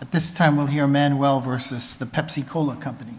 At this time, we'll hear Manuel versus the Pepsi-Cola Company.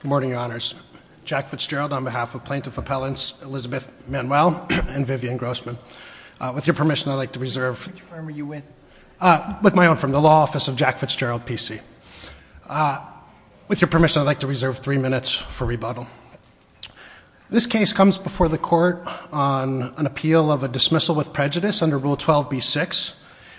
Good morning, Your Honors. Jack Fitzgerald on behalf of Plaintiff Appellants Elizabeth Manuel and Vivian Grossman. With your permission, I'd like to reserve three minutes for rebuttal. This case comes before the Court on an appeal of a dismissal with prejudice under Rule 12b-6.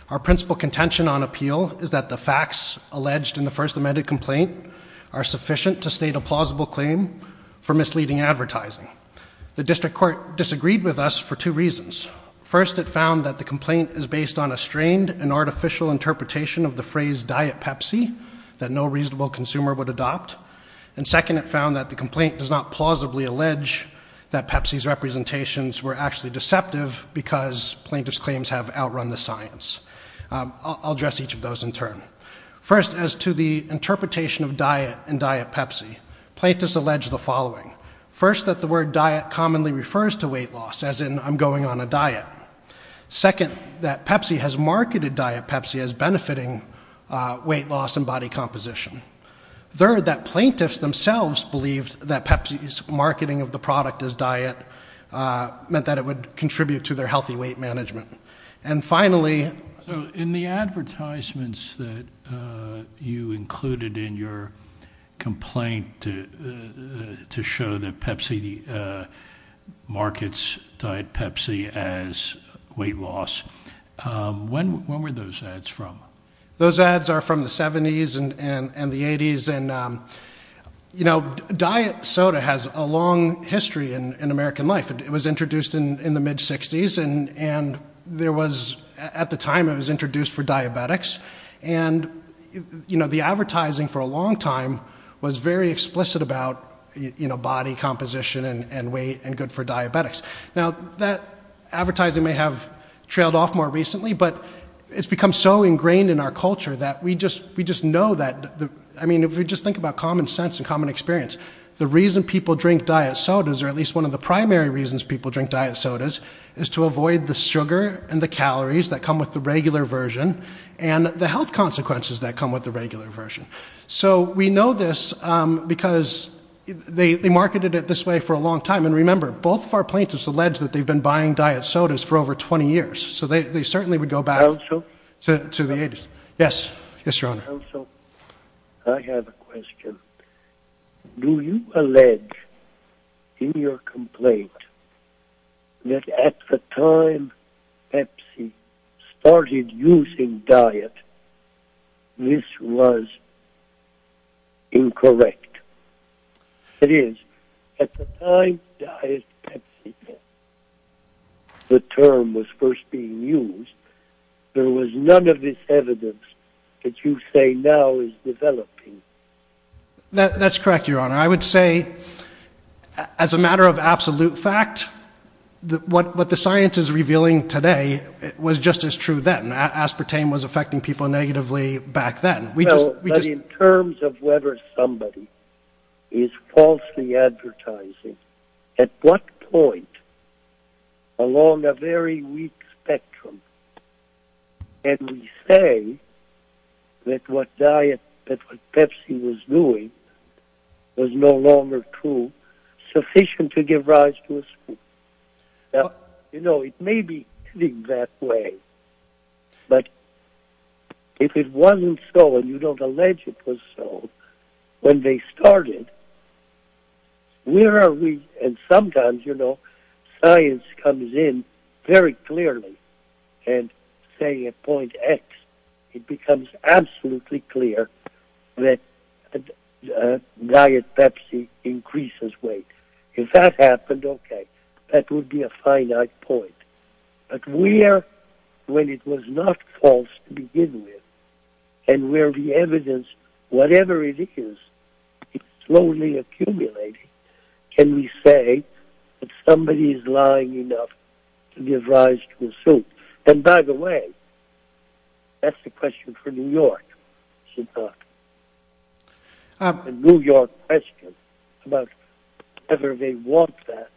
Our principal contention on appeal is that the facts alleged in the First Amendment complaint are sufficient to state a plausible claim for misleading advertising. The District Court disagreed with us for two reasons. First, it found that the complaint is based on a strained and artificial interpretation of the phrase, diet Pepsi, that no reasonable consumer would adopt. And second, it found that the complaint does not plausibly allege that Pepsi's representations were actually deceptive because plaintiff's claims have outrun the science. I'll address each of those in turn. First, as to the interpretation of diet and diet Pepsi, plaintiffs allege the following. First, that the word diet commonly refers to weight loss, as in, I'm going on a diet. Second, that Pepsi has marketed diet Pepsi as benefiting weight loss and body composition. Third, that plaintiffs themselves believed that Pepsi's marketing of the product as diet meant that it would contribute to their healthy weight management. And finally... In the advertisements that you included in your complaint to show that Pepsi markets diet Pepsi as weight loss, when were those ads from? Those ads are from the 70s and the 80s. And, you know, diet soda has a long history in the mid-60s and there was, at the time, it was introduced for diabetics. And, you know, the advertising for a long time was very explicit about, you know, body composition and weight and good for diabetics. Now, that advertising may have trailed off more recently, but it's become so ingrained in our culture that we just know that, I mean, if we just think about common sense and common experience, the reason people drink diet sodas, or at least one of the primary reasons people drink diet sodas, is to avoid the sugar and the calories that come with the regular version and the health consequences that come with the regular version. So we know this because they marketed it this way for a long time. And remember, both of our plaintiffs allege that they've been buying diet sodas for over 20 years. So they certainly would go back to the 80s. Counsel? Yes. Yes, Your Honor. Counsel, I have a question. Do you allege, in your complaint, that at the time Pepsi started using diet, this was incorrect? That is, at the time Pepsi, the term was first being used, there was none of this evidence that you say now is developing. That's correct, Your Honor. I would say, as a matter of absolute fact, what the science is revealing today was just as true then. Aspartame was affecting people negatively back then. Well, but in terms of whether somebody is falsely advertising, at what point, along a very weak spectrum. And we say that what diet, that what Pepsi was doing was no longer true, sufficient to give rise to a spook. Now, you know, it may be that way, but if it wasn't so, and you don't allege it was so, when they started, where are we? And sometimes, you know, science comes in very clearly, and say at point X, it becomes absolutely clear that diet Pepsi increases weight. If that happened, okay, that would be a finite point. But where, when it was not false to begin with, and where the evidence, whatever it is, is slowly accumulating, can we say that somebody is lying enough to give rise to a spook? And by the way, that's the question for New York, is it not? The New York question about whether they want that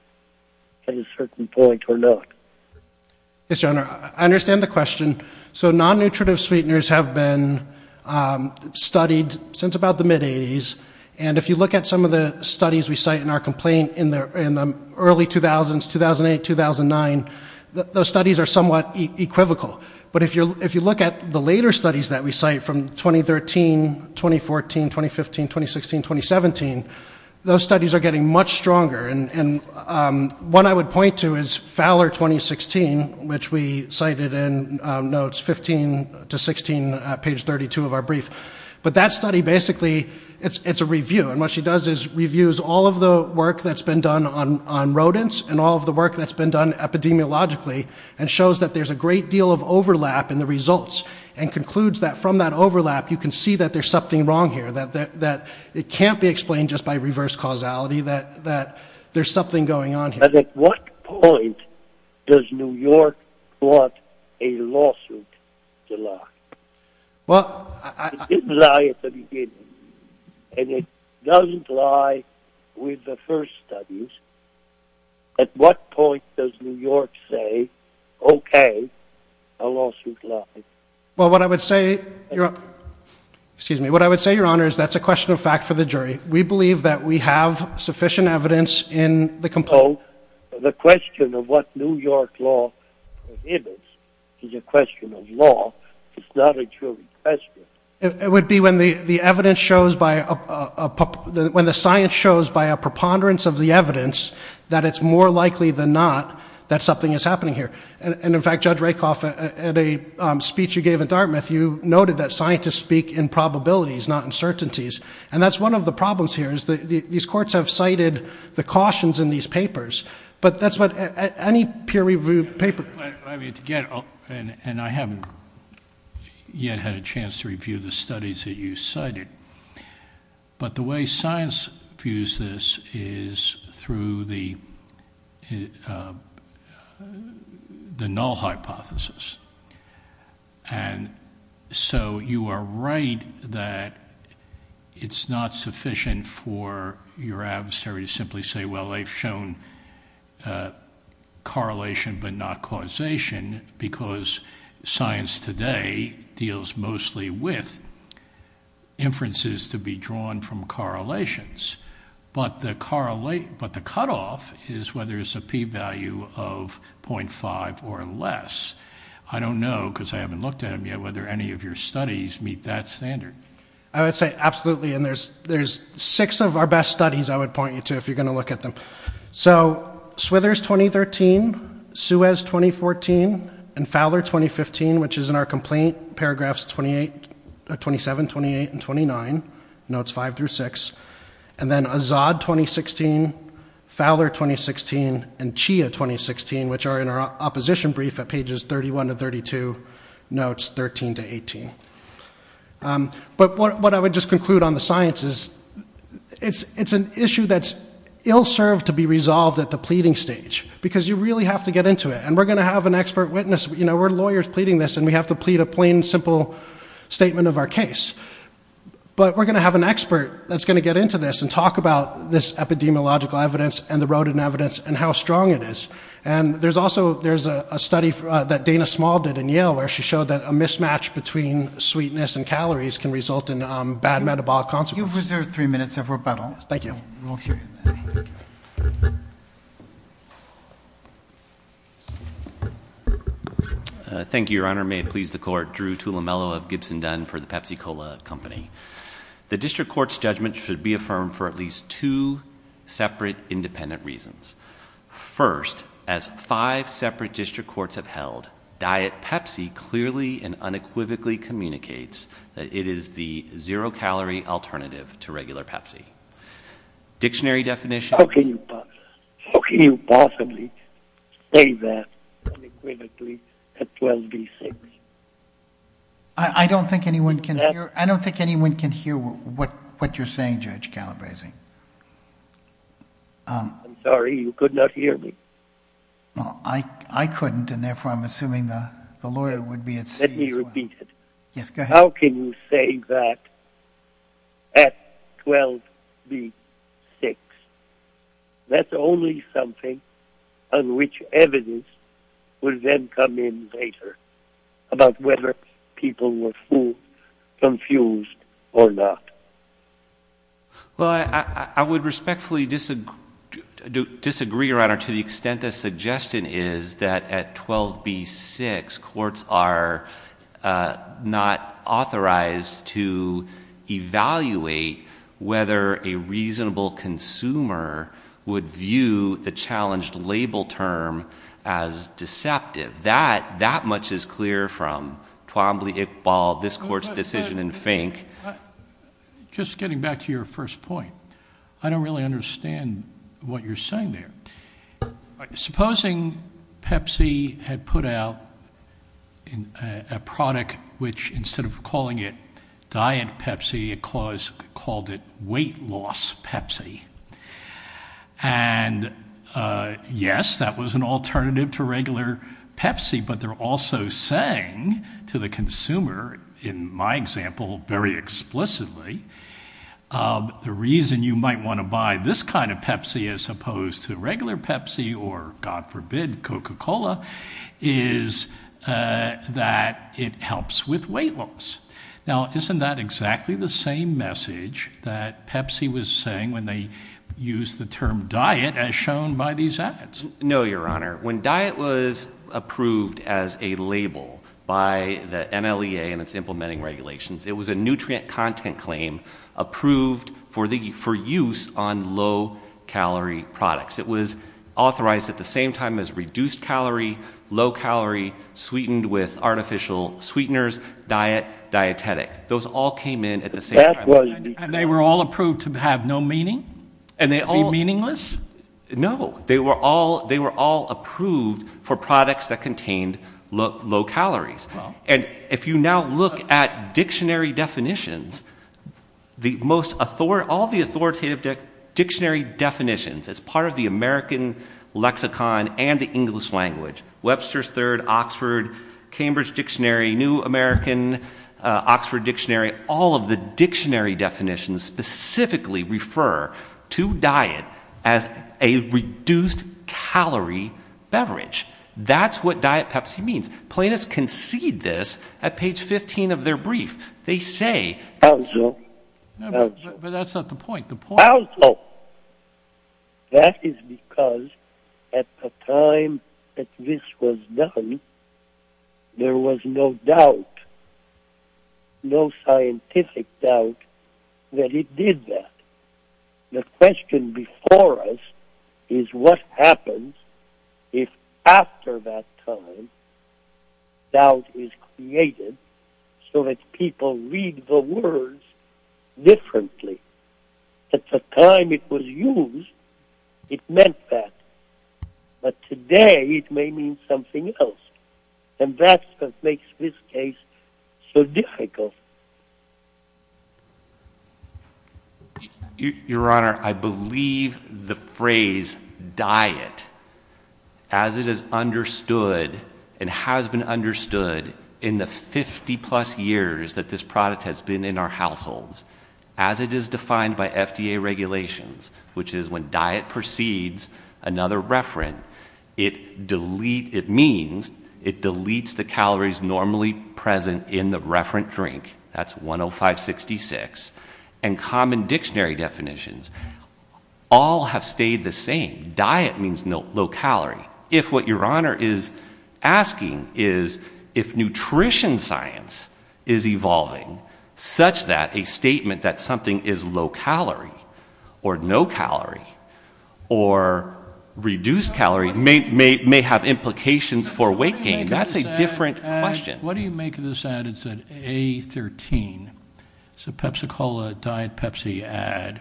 at a certain point or not. Yes, Your Honor. I understand the question. So non-nutritive sweeteners have been studied since about the mid-80s, and if you look at some of the studies we cite in our complaint in the early 2000s, 2008, 2009, those studies are somewhat equivocal. But if you look at the later studies that we cite from 2013, 2014, 2015, 2016, 2017, those studies are getting much stronger. And one I would point to is Fowler 2016, which we cited in notes 15 to 16, page 32 of our brief. But that study basically, it's a review, and what she does is reviews all of the work that's been done on rodents, and all of the work that's been done epidemiologically, and shows that there's a great deal of overlap in the results, and concludes that from that overlap you can see that there's something wrong here, that it can't be explained just by reverse causality, that there's something going on here. But at what point does New York want a lawsuit to lie? Well, I... It didn't lie at the beginning, and it doesn't lie with the first studies. At what point does New York say, okay, a lawsuit lied? Well what I would say, Your Honor, excuse me, what I would say, Your Honor, is that's a question of fact for the jury. We believe that we have sufficient evidence in the complaint... So the question of what New York law prohibits is a question of law. It's not a jury question. It would be when the evidence shows by a... When the science shows by a preponderance of the evidence that it's more likely than not that something is happening here. And in fact, Judge Rakoff, at a speech you gave at Dartmouth, you noted that scientists speak in probabilities, not uncertainties. And that's one of the problems here, is that these courts have cited the cautions in these papers. But that's what... Any peer-reviewed paper... I mean, to get... And I haven't yet had a chance to review the studies that you cited. But the way science views this is through the null hypothesis. And so you are right that it's not sufficient for your adversary to simply say, well, they've shown correlation but not causation, because science today deals mostly with inferences to be drawn from correlations. But the cutoff is whether it's a p-value of .5 or less. I don't know, because I haven't looked at them yet, whether any of your studies meet that standard. I would say absolutely. And there's six of our best studies, I would point you to, if you're going to look at them. So, Swithers 2013, Suez 2014, and Fowler 2015, which is in our complaint, paragraphs 27, 28, and 29, notes 5 through 6. And then Azad 2016, Fowler 2016, and Chia 2016, which are in our opposition brief at pages 31 to 32, notes 13 to 18. But what I would just conclude on the science is it's an issue that's ill-served to be resolved at the pleading stage, because you really have to get into it. And we're going to have an expert witness. We're lawyers pleading this, and we have to plead a plain, simple statement of our case. But we're going to have an expert that's going to get into this and talk about this epidemiological evidence and the rodent evidence and how strong it is. And there's also, there's a study that Dana Small did in Yale, where she showed that a mismatch between sweetness and calories can result in bad metabolic consequences. You've reserved three minutes of rebuttal. Thank you. Thank you, Your Honor. May it please the Court. Drew Tulemelo of Gibson Dunn for the Pepsi for at least two separate independent reasons. First, as five separate district courts have held, Diet Pepsi clearly and unequivocally communicates that it is the zero-calorie alternative to regular Pepsi. Dictionary definition... How can you possibly say that unequivocally at 12 v. 6? I don't think anyone can hear what you're saying, Judge Calabresi. I'm sorry, you could not hear me. Well, I couldn't, and therefore I'm assuming the lawyer would be at sea as well. Let me repeat it. How can you say that at 12 v. 6? That's only something on which evidence would then come in later about whether people were confused or not? Well, I would respectfully disagree, Your Honor, to the extent the suggestion is that at 12 v. 6, courts are not authorized to evaluate whether a reasonable consumer would view the challenged label term as deceptive. That much is clear from Twombly, Iqbal, this court's decision in Fink. Just getting back to your first point, I don't really understand what you're saying there. Supposing Pepsi had put out a product which, instead of calling it Diet Pepsi, it called it Yes, that was an alternative to regular Pepsi, but they're also saying to the consumer, in my example, very explicitly, the reason you might want to buy this kind of Pepsi as opposed to regular Pepsi or, God forbid, Coca-Cola, is that it helps with weight loss. Now, isn't that exactly the same message that Pepsi was saying when they used the term Diet as shown by these ads? No, Your Honor. When Diet was approved as a label by the NLEA and its implementing regulations, it was a nutrient content claim approved for use on low-calorie products. It was authorized at the same time as reduced-calorie, low-calorie, sweetened with artificial sweeteners, diet, dietetic. Those all came in at the same time. And they were all approved to have no meaning? Be meaningless? No. They were all approved for products that contained low calories. And if you now look at dictionary definitions, all the authoritative dictionary definitions as part of the American lexicon and the English language, Webster's Third, Oxford, Cambridge Dictionary, New American, Oxford Dictionary, all of the dictionary definitions specifically refer to Diet as a reduced-calorie beverage. That's what Diet Pepsi means. Plaintiffs concede this at page 15 of their brief. They say... Also... But that's not the point. Also, that is because at the time that this was done, there was no doubt, no scientific doubt that it did that. The question before us is what happens if, after that time, doubt is created so that people read the words differently? At the time it was used, it meant that. But today, it may mean something else. And that's what makes this case so difficult. Your Honor, I believe the phrase Diet, as it is understood and has been understood in the 50-plus years that this product has been in our households, as it is defined by FDA regulations, which is when Diet precedes another referent, it means it deletes the calories normally present in the referent drink, that's 105-66, and common dictionary definitions, all have stayed the same. Diet means low-calorie. If what Your Honor is asking is if nutrition science is evolving such that a statement that something is low-calorie or no-calorie or reduced-calorie may have implications for weight gain, that's a different question. What do you make of this ad that said A13? It's a Pepsi-Cola Diet Pepsi ad,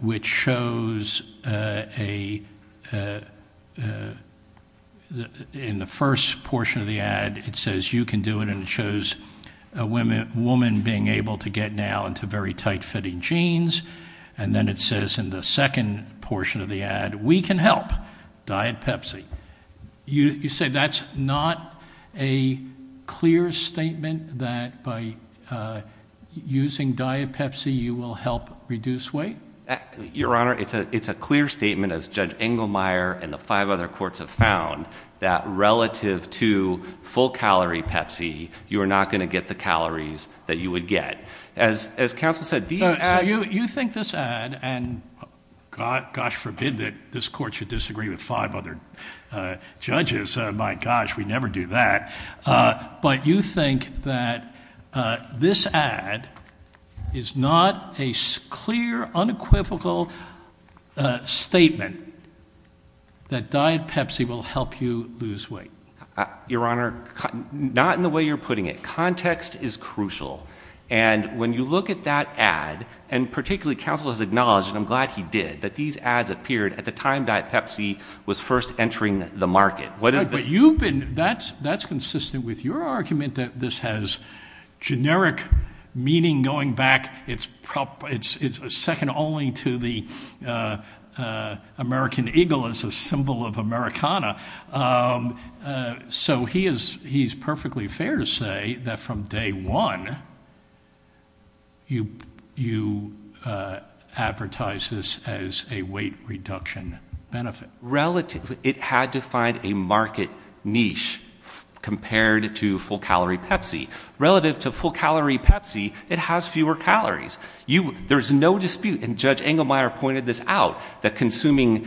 which shows in the first portion of the ad, it says you can do it, and it shows a woman being able to get now into very tight-fitting jeans, and then it says in the second portion of the ad, we can help, Diet Pepsi. You say that's not a clear statement that by using Diet Pepsi you will help reduce weight? Your Honor, it's a clear statement, as Judge Engelmeyer and the five other courts have found, that relative to full-calorie Pepsi, you are not going to get the calories that you would get. As counsel said, Diet Pepsi. You think this ad, and gosh forbid that this court should disagree with five other judges. My gosh, we never do that. But you think that this ad is not a clear, unequivocal statement that Diet Pepsi will help you lose weight? Your Honor, not in the way you're putting it. Context is crucial. And when you look at that ad, and particularly counsel has acknowledged, and I'm glad he did, that these ads appeared at the time Diet Pepsi was first entering the market. But you've been – that's consistent with your argument that this has generic meaning going back. It's second only to the American eagle as a symbol of Americana. So he's perfectly fair to say that from day one, you advertise this as a weight reduction benefit. It had to find a market niche compared to full-calorie Pepsi. Relative to full-calorie Pepsi, it has fewer calories. There's no dispute, and Judge Engelmeyer pointed this out, that consuming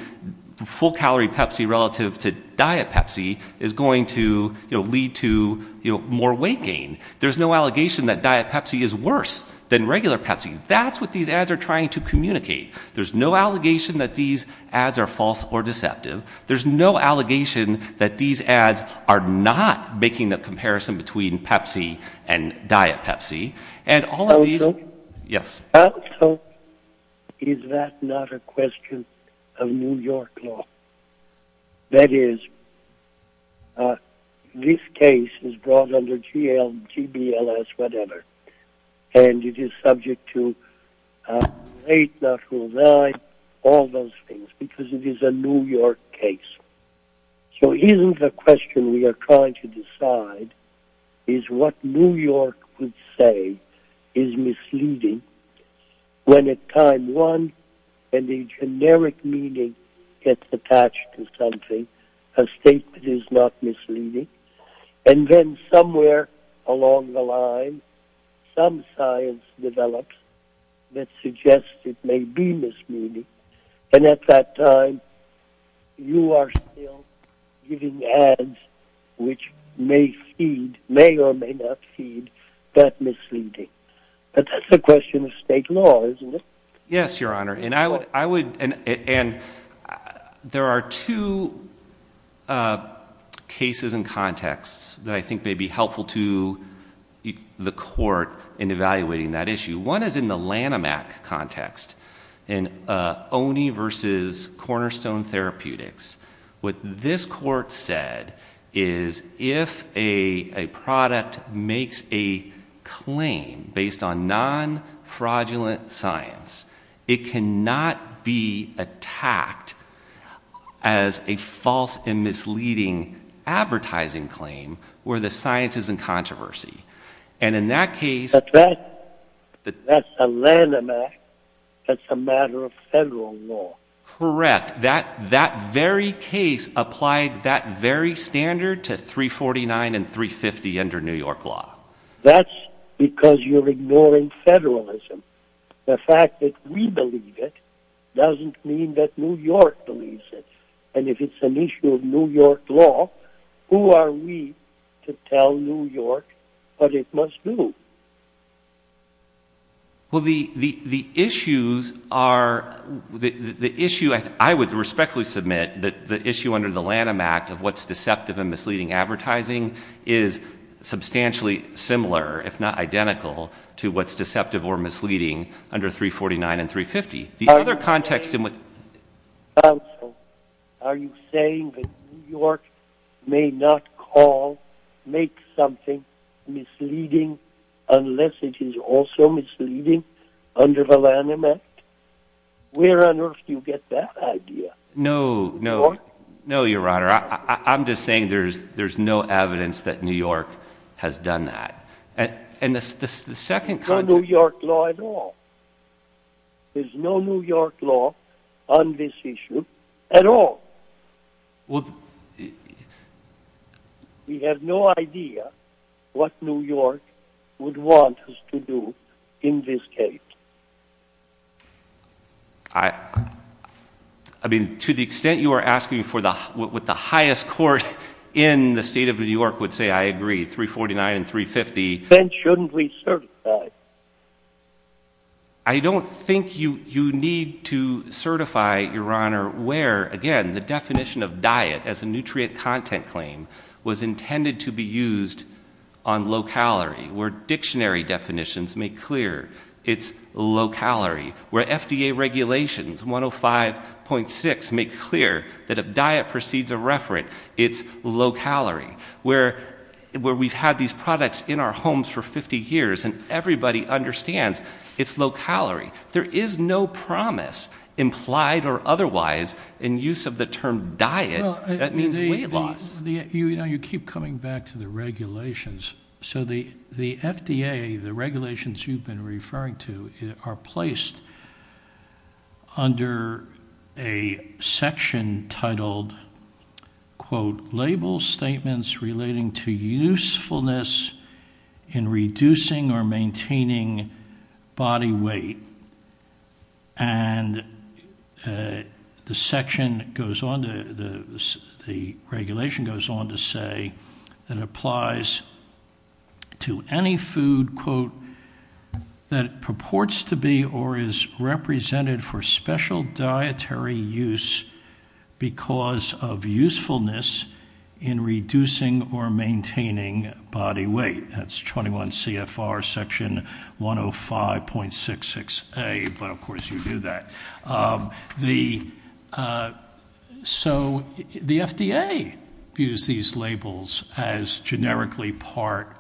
full-calorie Pepsi relative to Diet Pepsi is going to lead to more weight gain. There's no allegation that Diet Pepsi is worse than regular Pepsi. That's what these ads are trying to communicate. There's no allegation that these ads are false or deceptive. There's no allegation that these ads are not making the comparison between Pepsi and Diet Pepsi. Also, is that not a question of New York law? That is, this case is brought under GL, GBLS, whatever, and it is subject to weight, natural value, all those things, because it is a New York case. So isn't the question we are trying to decide is what New York would say is misleading when at time one, a generic meaning gets attached to something, a statement is not misleading, and then somewhere along the line, some science develops that suggests it may be misleading, and at that time, you are still giving ads which may or may not feed that misleading. But that's a question of state law, isn't it? Yes, Your Honor, and there are two cases and contexts that I think may be helpful to the court in evaluating that issue. One is in the Lanham Act context in Oney v. Cornerstone Therapeutics. What this court said is if a product makes a claim based on non-fraudulent science, it cannot be attacked as a false and misleading advertising claim where the science is in controversy. But that's a Lanham Act that's a matter of federal law. Correct. That very case applied that very standard to 349 and 350 under New York law. That's because you're ignoring federalism. The fact that we believe it doesn't mean that New York believes it, and if it's an issue of New York law, who are we to tell New York what it must do? Well, the issue I would respectfully submit that the issue under the Lanham Act of what's deceptive and misleading advertising is substantially similar, if not identical, to what's deceptive or misleading under 349 and 350. Are you saying that New York may not call, make something misleading unless it is also misleading under the Lanham Act? Where on earth do you get that idea? No, Your Honor, I'm just saying there's no evidence that New York has done that. There's no New York law at all. There's no New York law on this issue at all. We have no idea what New York would want us to do in this case. I mean, to the extent you are asking for what the highest court in the state of New York would say, I agree, 349 and 350. Then shouldn't we certify? I don't think you need to certify, Your Honor, where, again, the definition of diet as a nutrient content claim was intended to be used on low-calorie, where dictionary definitions make clear it's low-calorie, where FDA regulations 105.6 make clear that if diet precedes a referent, it's low-calorie, where we've had these products in our homes for 50 years and everybody understands it's low-calorie. There is no promise, implied or otherwise, in use of the term diet that means weight loss. You keep coming back to the regulations. So the FDA, the regulations you've been referring to, are placed under a section titled label statements relating to usefulness in reducing or maintaining body weight. And the section goes on to, the regulation goes on to say that it applies to any food that purports to be or is represented for special dietary use because of usefulness in reducing or maintaining body weight. That's 21 CFR section 105.66A, but of course you do that. So the FDA views these labels as generically part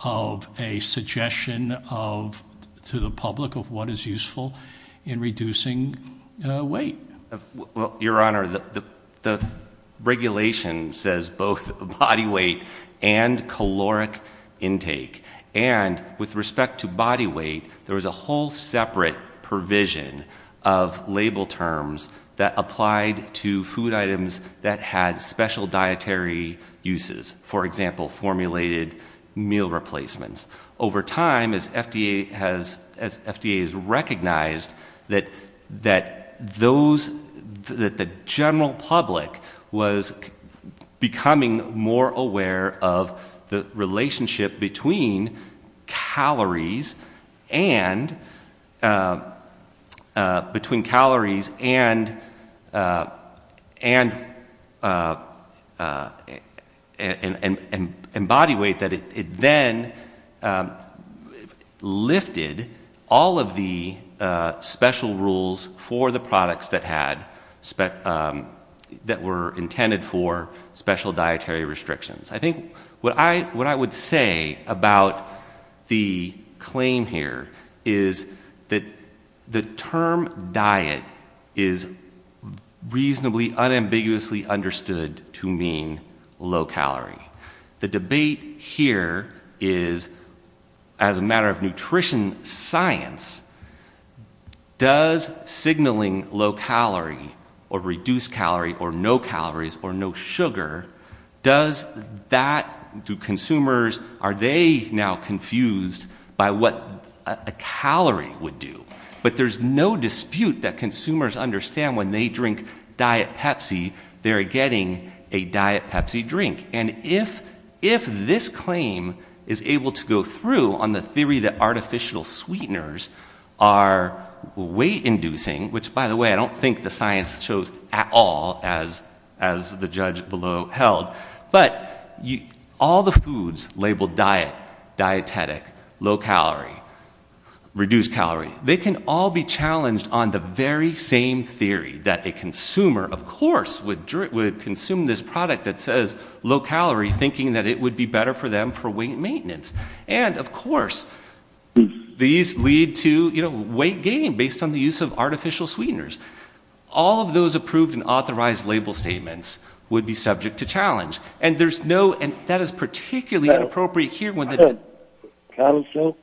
of a suggestion to the public of what is useful in reducing weight. Your Honor, the regulation says both body weight and caloric intake. And with respect to body weight, there was a whole separate provision of label terms that applied to food items that had special dietary uses. For example, formulated meal replacements. Over time, as FDA has recognized that those, that the general public was becoming more aware of the relationship between calories and, between calories and body weight, that it then lifted all of the special rules for the products that had, that were intended for special dietary restrictions. I think what I would say about the claim here is that the term diet is reasonably unambiguously understood to mean low calorie. The debate here is, as a matter of nutrition science, does signaling low calorie or reduced calorie or no calories or no sugar, does that, do consumers, are they now confused by what a calorie would do? But there's no dispute that consumers understand when they drink Diet Pepsi, they're getting a Diet Pepsi drink. And if this claim is able to go through on the theory that artificial sweeteners are weight inducing, which, by the way, I don't think the science shows at all, as the judge below held, but all the foods labeled diet, dietetic, low calorie, reduced calorie, they can all be challenged on the very same theory that a consumer, of course, would consume this product that says low calorie, thinking that it would be better for them for weight maintenance. And, of course, these lead to weight gain based on the use of artificial sweeteners. All of those approved and authorized label statements would be subject to challenge. And that is particularly inappropriate here. Counsel,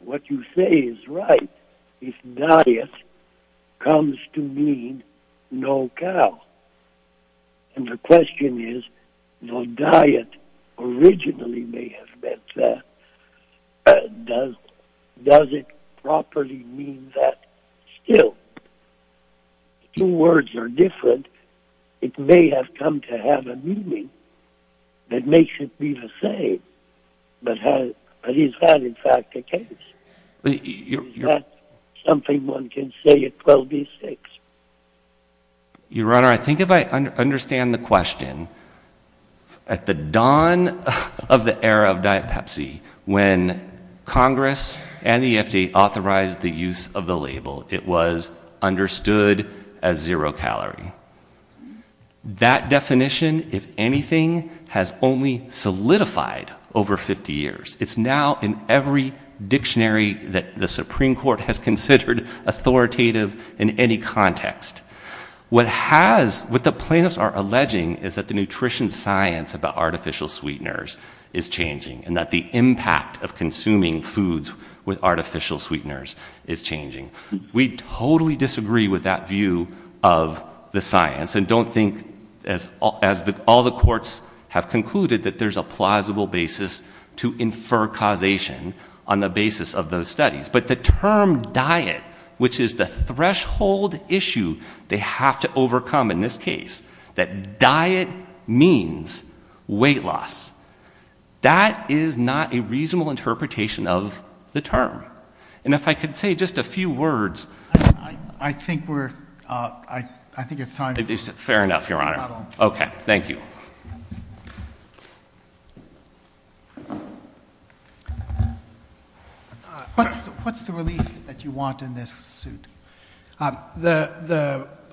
what you say is right. If diet comes to mean no cal, and the question is, no diet originally may have meant that, does it properly mean that still? Two words are different. It may have come to have a meaning that makes it be the same. But is that, in fact, the case? Is that something one can say at 12D6? Your Honor, I think if I understand the question, at the dawn of the era of Diet Pepsi, when Congress and the FDA authorized the use of the label, it was understood as zero calorie. That definition, if anything, has only solidified over 50 years. It's now in every dictionary that the Supreme Court has considered authoritative in any context. What the plaintiffs are alleging is that the nutrition science about artificial sweeteners is changing and that the impact of consuming foods with artificial sweeteners is changing. We totally disagree with that view of the science and don't think, as all the courts have concluded, that there's a plausible basis to infer causation on the basis of those studies. But the term diet, which is the threshold issue they have to overcome in this case, that diet means weight loss, that is not a reasonable interpretation of the term. And if I could say just a few words. I think it's time. Fair enough, Your Honor. Okay, thank you. What's the relief that you want in this suit?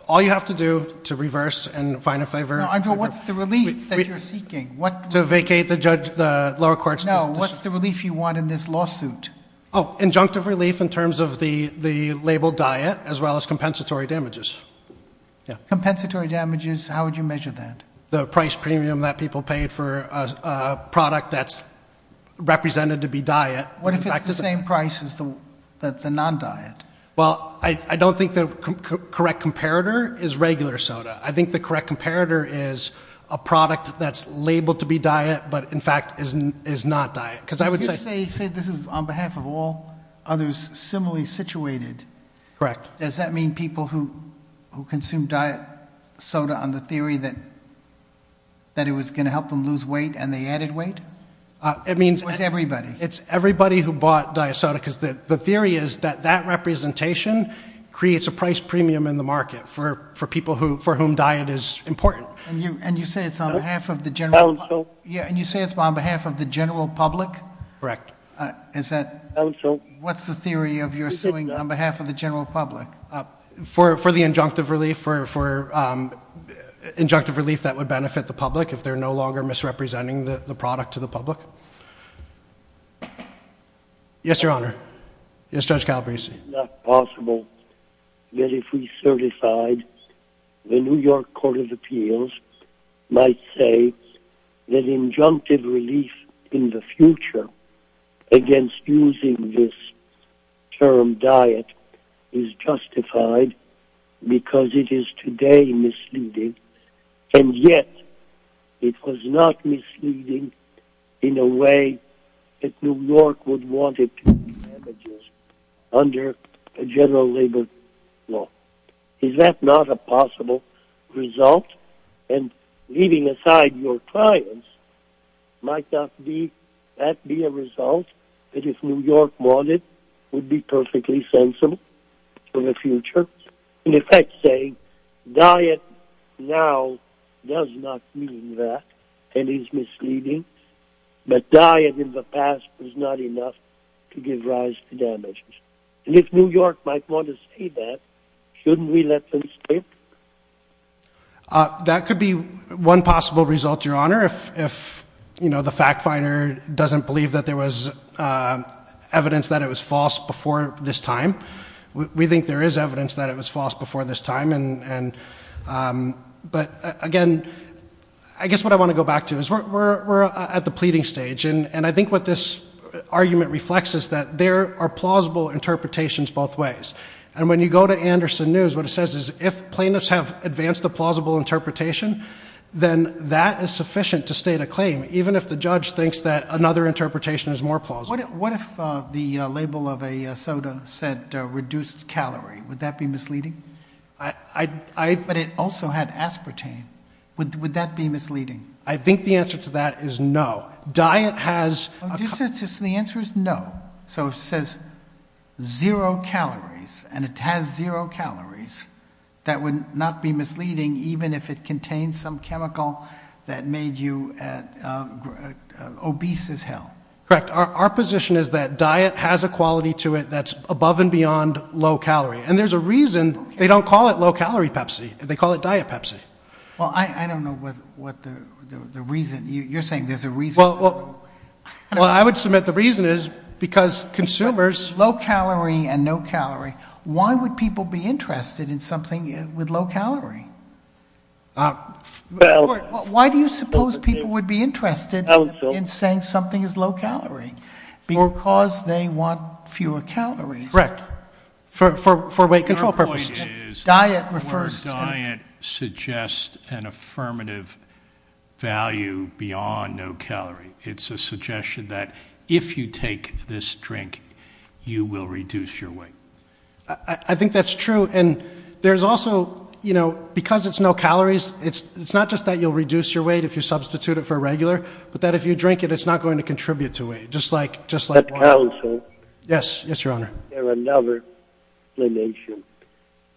All you have to do to reverse and find a favor. Andrew, what's the relief that you're seeking? To vacate the lower court's decision. No, what's the relief you want in this lawsuit? Oh, injunctive relief in terms of the label diet as well as compensatory damages. Compensatory damages, how would you measure that? The price premium that people paid for a product that's represented to be diet. What if it's the same price as the non-diet? Well, I don't think the correct comparator is regular soda. I think the correct comparator is a product that's labeled to be diet but, in fact, is not diet. Could you say this is on behalf of all others similarly situated? Correct. Does that mean people who consume diet soda on the theory that it was going to help them lose weight and they added weight? Or is it everybody? It's everybody who bought diet soda because the theory is that that representation creates a price premium in the market for people for whom diet is important. And you say it's on behalf of the general public? Correct. What's the theory of your suing on behalf of the general public? For the injunctive relief that would benefit the public if they're no longer misrepresenting the product to the public. Yes, Your Honor. Yes, Judge Calabresi. It's not possible that if we certified, the New York Court of Appeals might say that injunctive relief in the future against using this term diet is justified because it is today misleading and yet it was not misleading in a way that New York would want it to be damages under a general labor law. Is that not a possible result? And leaving aside your clients, might that be a result that if New York wanted would be perfectly sensible for the future? In effect saying diet now does not mean that and is misleading but diet in the past was not enough to give rise to damages. And if New York might want to say that, shouldn't we let them stay? That could be one possible result, Your Honor, if the fact finder doesn't believe that there was evidence that it was false before this time. We think there is evidence that it was false before this time. But again, I guess what I want to go back to is we're at the pleading stage and I think what this argument reflects is that there are plausible interpretations both ways. And when you go to Anderson News, what it says is if plaintiffs have advanced a plausible interpretation, then that is sufficient to state a claim even if the judge thinks that another interpretation is more plausible. What if the label of a soda said reduced calorie? Would that be misleading? But it also had aspartame. Would that be misleading? I think the answer to that is no. Diet has... The answer is no. So it says zero calories and it has zero calories. That would not be misleading even if it contains some chemical that made you obese as hell. Correct. Our position is that diet has a quality to it that's above and beyond low calorie. And there's a reason they don't call it low calorie Pepsi. They call it diet Pepsi. Well, I don't know what the reason. You're saying there's a reason. Well, I would submit the reason is because consumers... Low calorie and no calorie. Why would people be interested in something with low calorie? Why do you suppose people would be interested in saying something is low calorie? Because they want fewer calories. Correct. For weight control purposes. Your point is where diet suggests an affirmative value beyond no calorie. It's a suggestion that if you take this drink, you will reduce your weight. I think that's true. And there's also, you know, because it's no calories, it's not just that you'll reduce your weight if you substitute it for a regular, but that if you drink it, it's not going to contribute to weight, just like water. That counts, huh? Yes, yes, Your Honor. There's another explanation.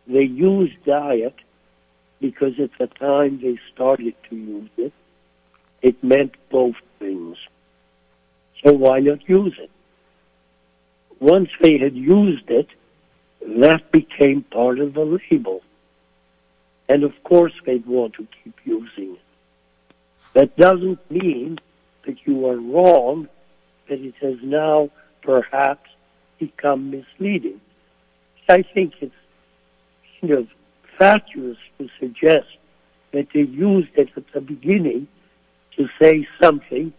They use diet because at the time they started to use it, it meant both things. So why not use it? Once they had used it, that became part of the label. And, of course, they'd want to keep using it. That doesn't mean that you are wrong, that it has now perhaps become misleading. I think it's, you know, fatuous to suggest that they used it at the beginning to say something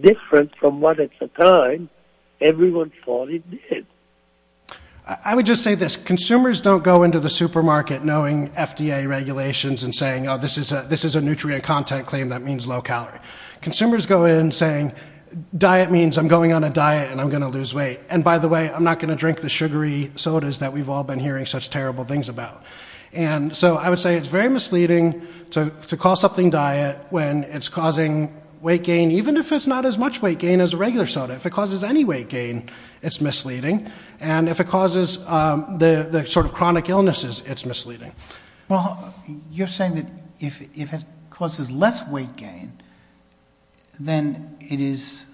different from what at the time everyone thought it did. I would just say this. Consumers don't go into the supermarket knowing FDA regulations and saying, oh, this is a nutrient content claim that means low calorie. Consumers go in saying diet means I'm going on a diet and I'm going to lose weight. And, by the way, I'm not going to drink the sugary sodas that we've all been hearing such terrible things about. And so I would say it's very misleading to call something diet when it's causing weight gain, even if it's not as much weight gain as a regular soda. If it causes any weight gain, it's misleading. And if it causes the sort of chronic illnesses, it's misleading. Well, you're saying that if it causes less weight gain, then it is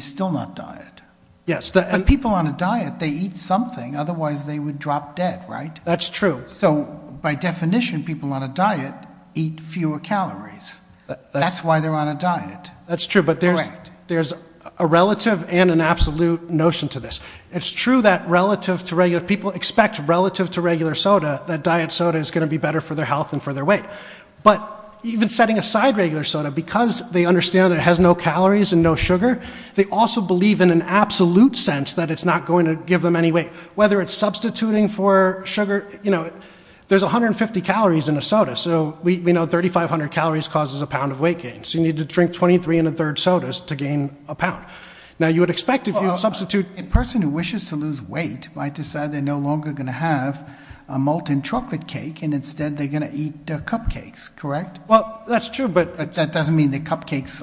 still not diet. Yes. But people on a diet, they eat something, otherwise they would drop dead, right? That's true. So, by definition, people on a diet eat fewer calories. That's why they're on a diet. That's true, but there's a relative and an absolute notion to this. It's true that people expect, relative to regular soda, that diet soda is going to be better for their health and for their weight. But even setting aside regular soda, because they understand it has no calories and no sugar, they also believe in an absolute sense that it's not going to give them any weight, whether it's substituting for sugar. There's 150 calories in a soda, so we know 3,500 calories causes a pound of weight gain. So you need to drink 23 and a third sodas to gain a pound. Now, you would expect if you substitute... A person who wishes to lose weight might decide they're no longer going to have a molten chocolate cake, and instead they're going to eat cupcakes, correct? Well, that's true, but... But that doesn't mean that cupcakes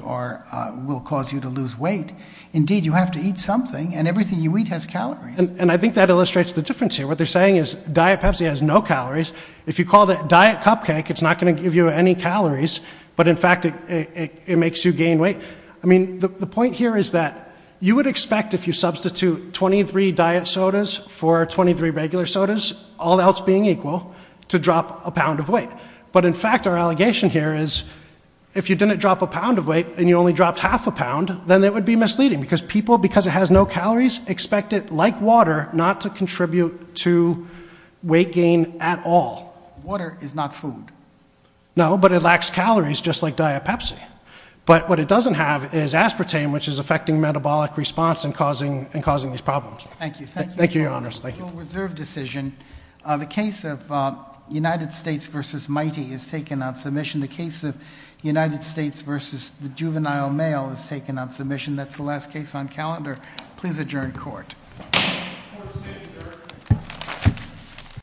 will cause you to lose weight. Indeed, you have to eat something, and everything you eat has calories. And I think that illustrates the difference here. What they're saying is diet Pepsi has no calories. If you called it diet cupcake, it's not going to give you any calories, but, in fact, it makes you gain weight. I mean, the point here is that you would expect if you substitute 23 diet sodas for 23 regular sodas, all else being equal, to drop a pound of weight. But, in fact, our allegation here is if you didn't drop a pound of weight and you only dropped half a pound, then it would be misleading, because people, because it has no calories, expect it, like water, not to contribute to weight gain at all. Water is not food. No, but it lacks calories, just like diet Pepsi. But what it doesn't have is aspartame, which is affecting metabolic response and causing these problems. Thank you. Thank you, Your Honors. Thank you. Reserved decision. The case of United States v. Mighty is taken on submission. The case of United States v. The Juvenile Mail is taken on submission. That's the last case on calendar. Please adjourn court. Court is adjourned.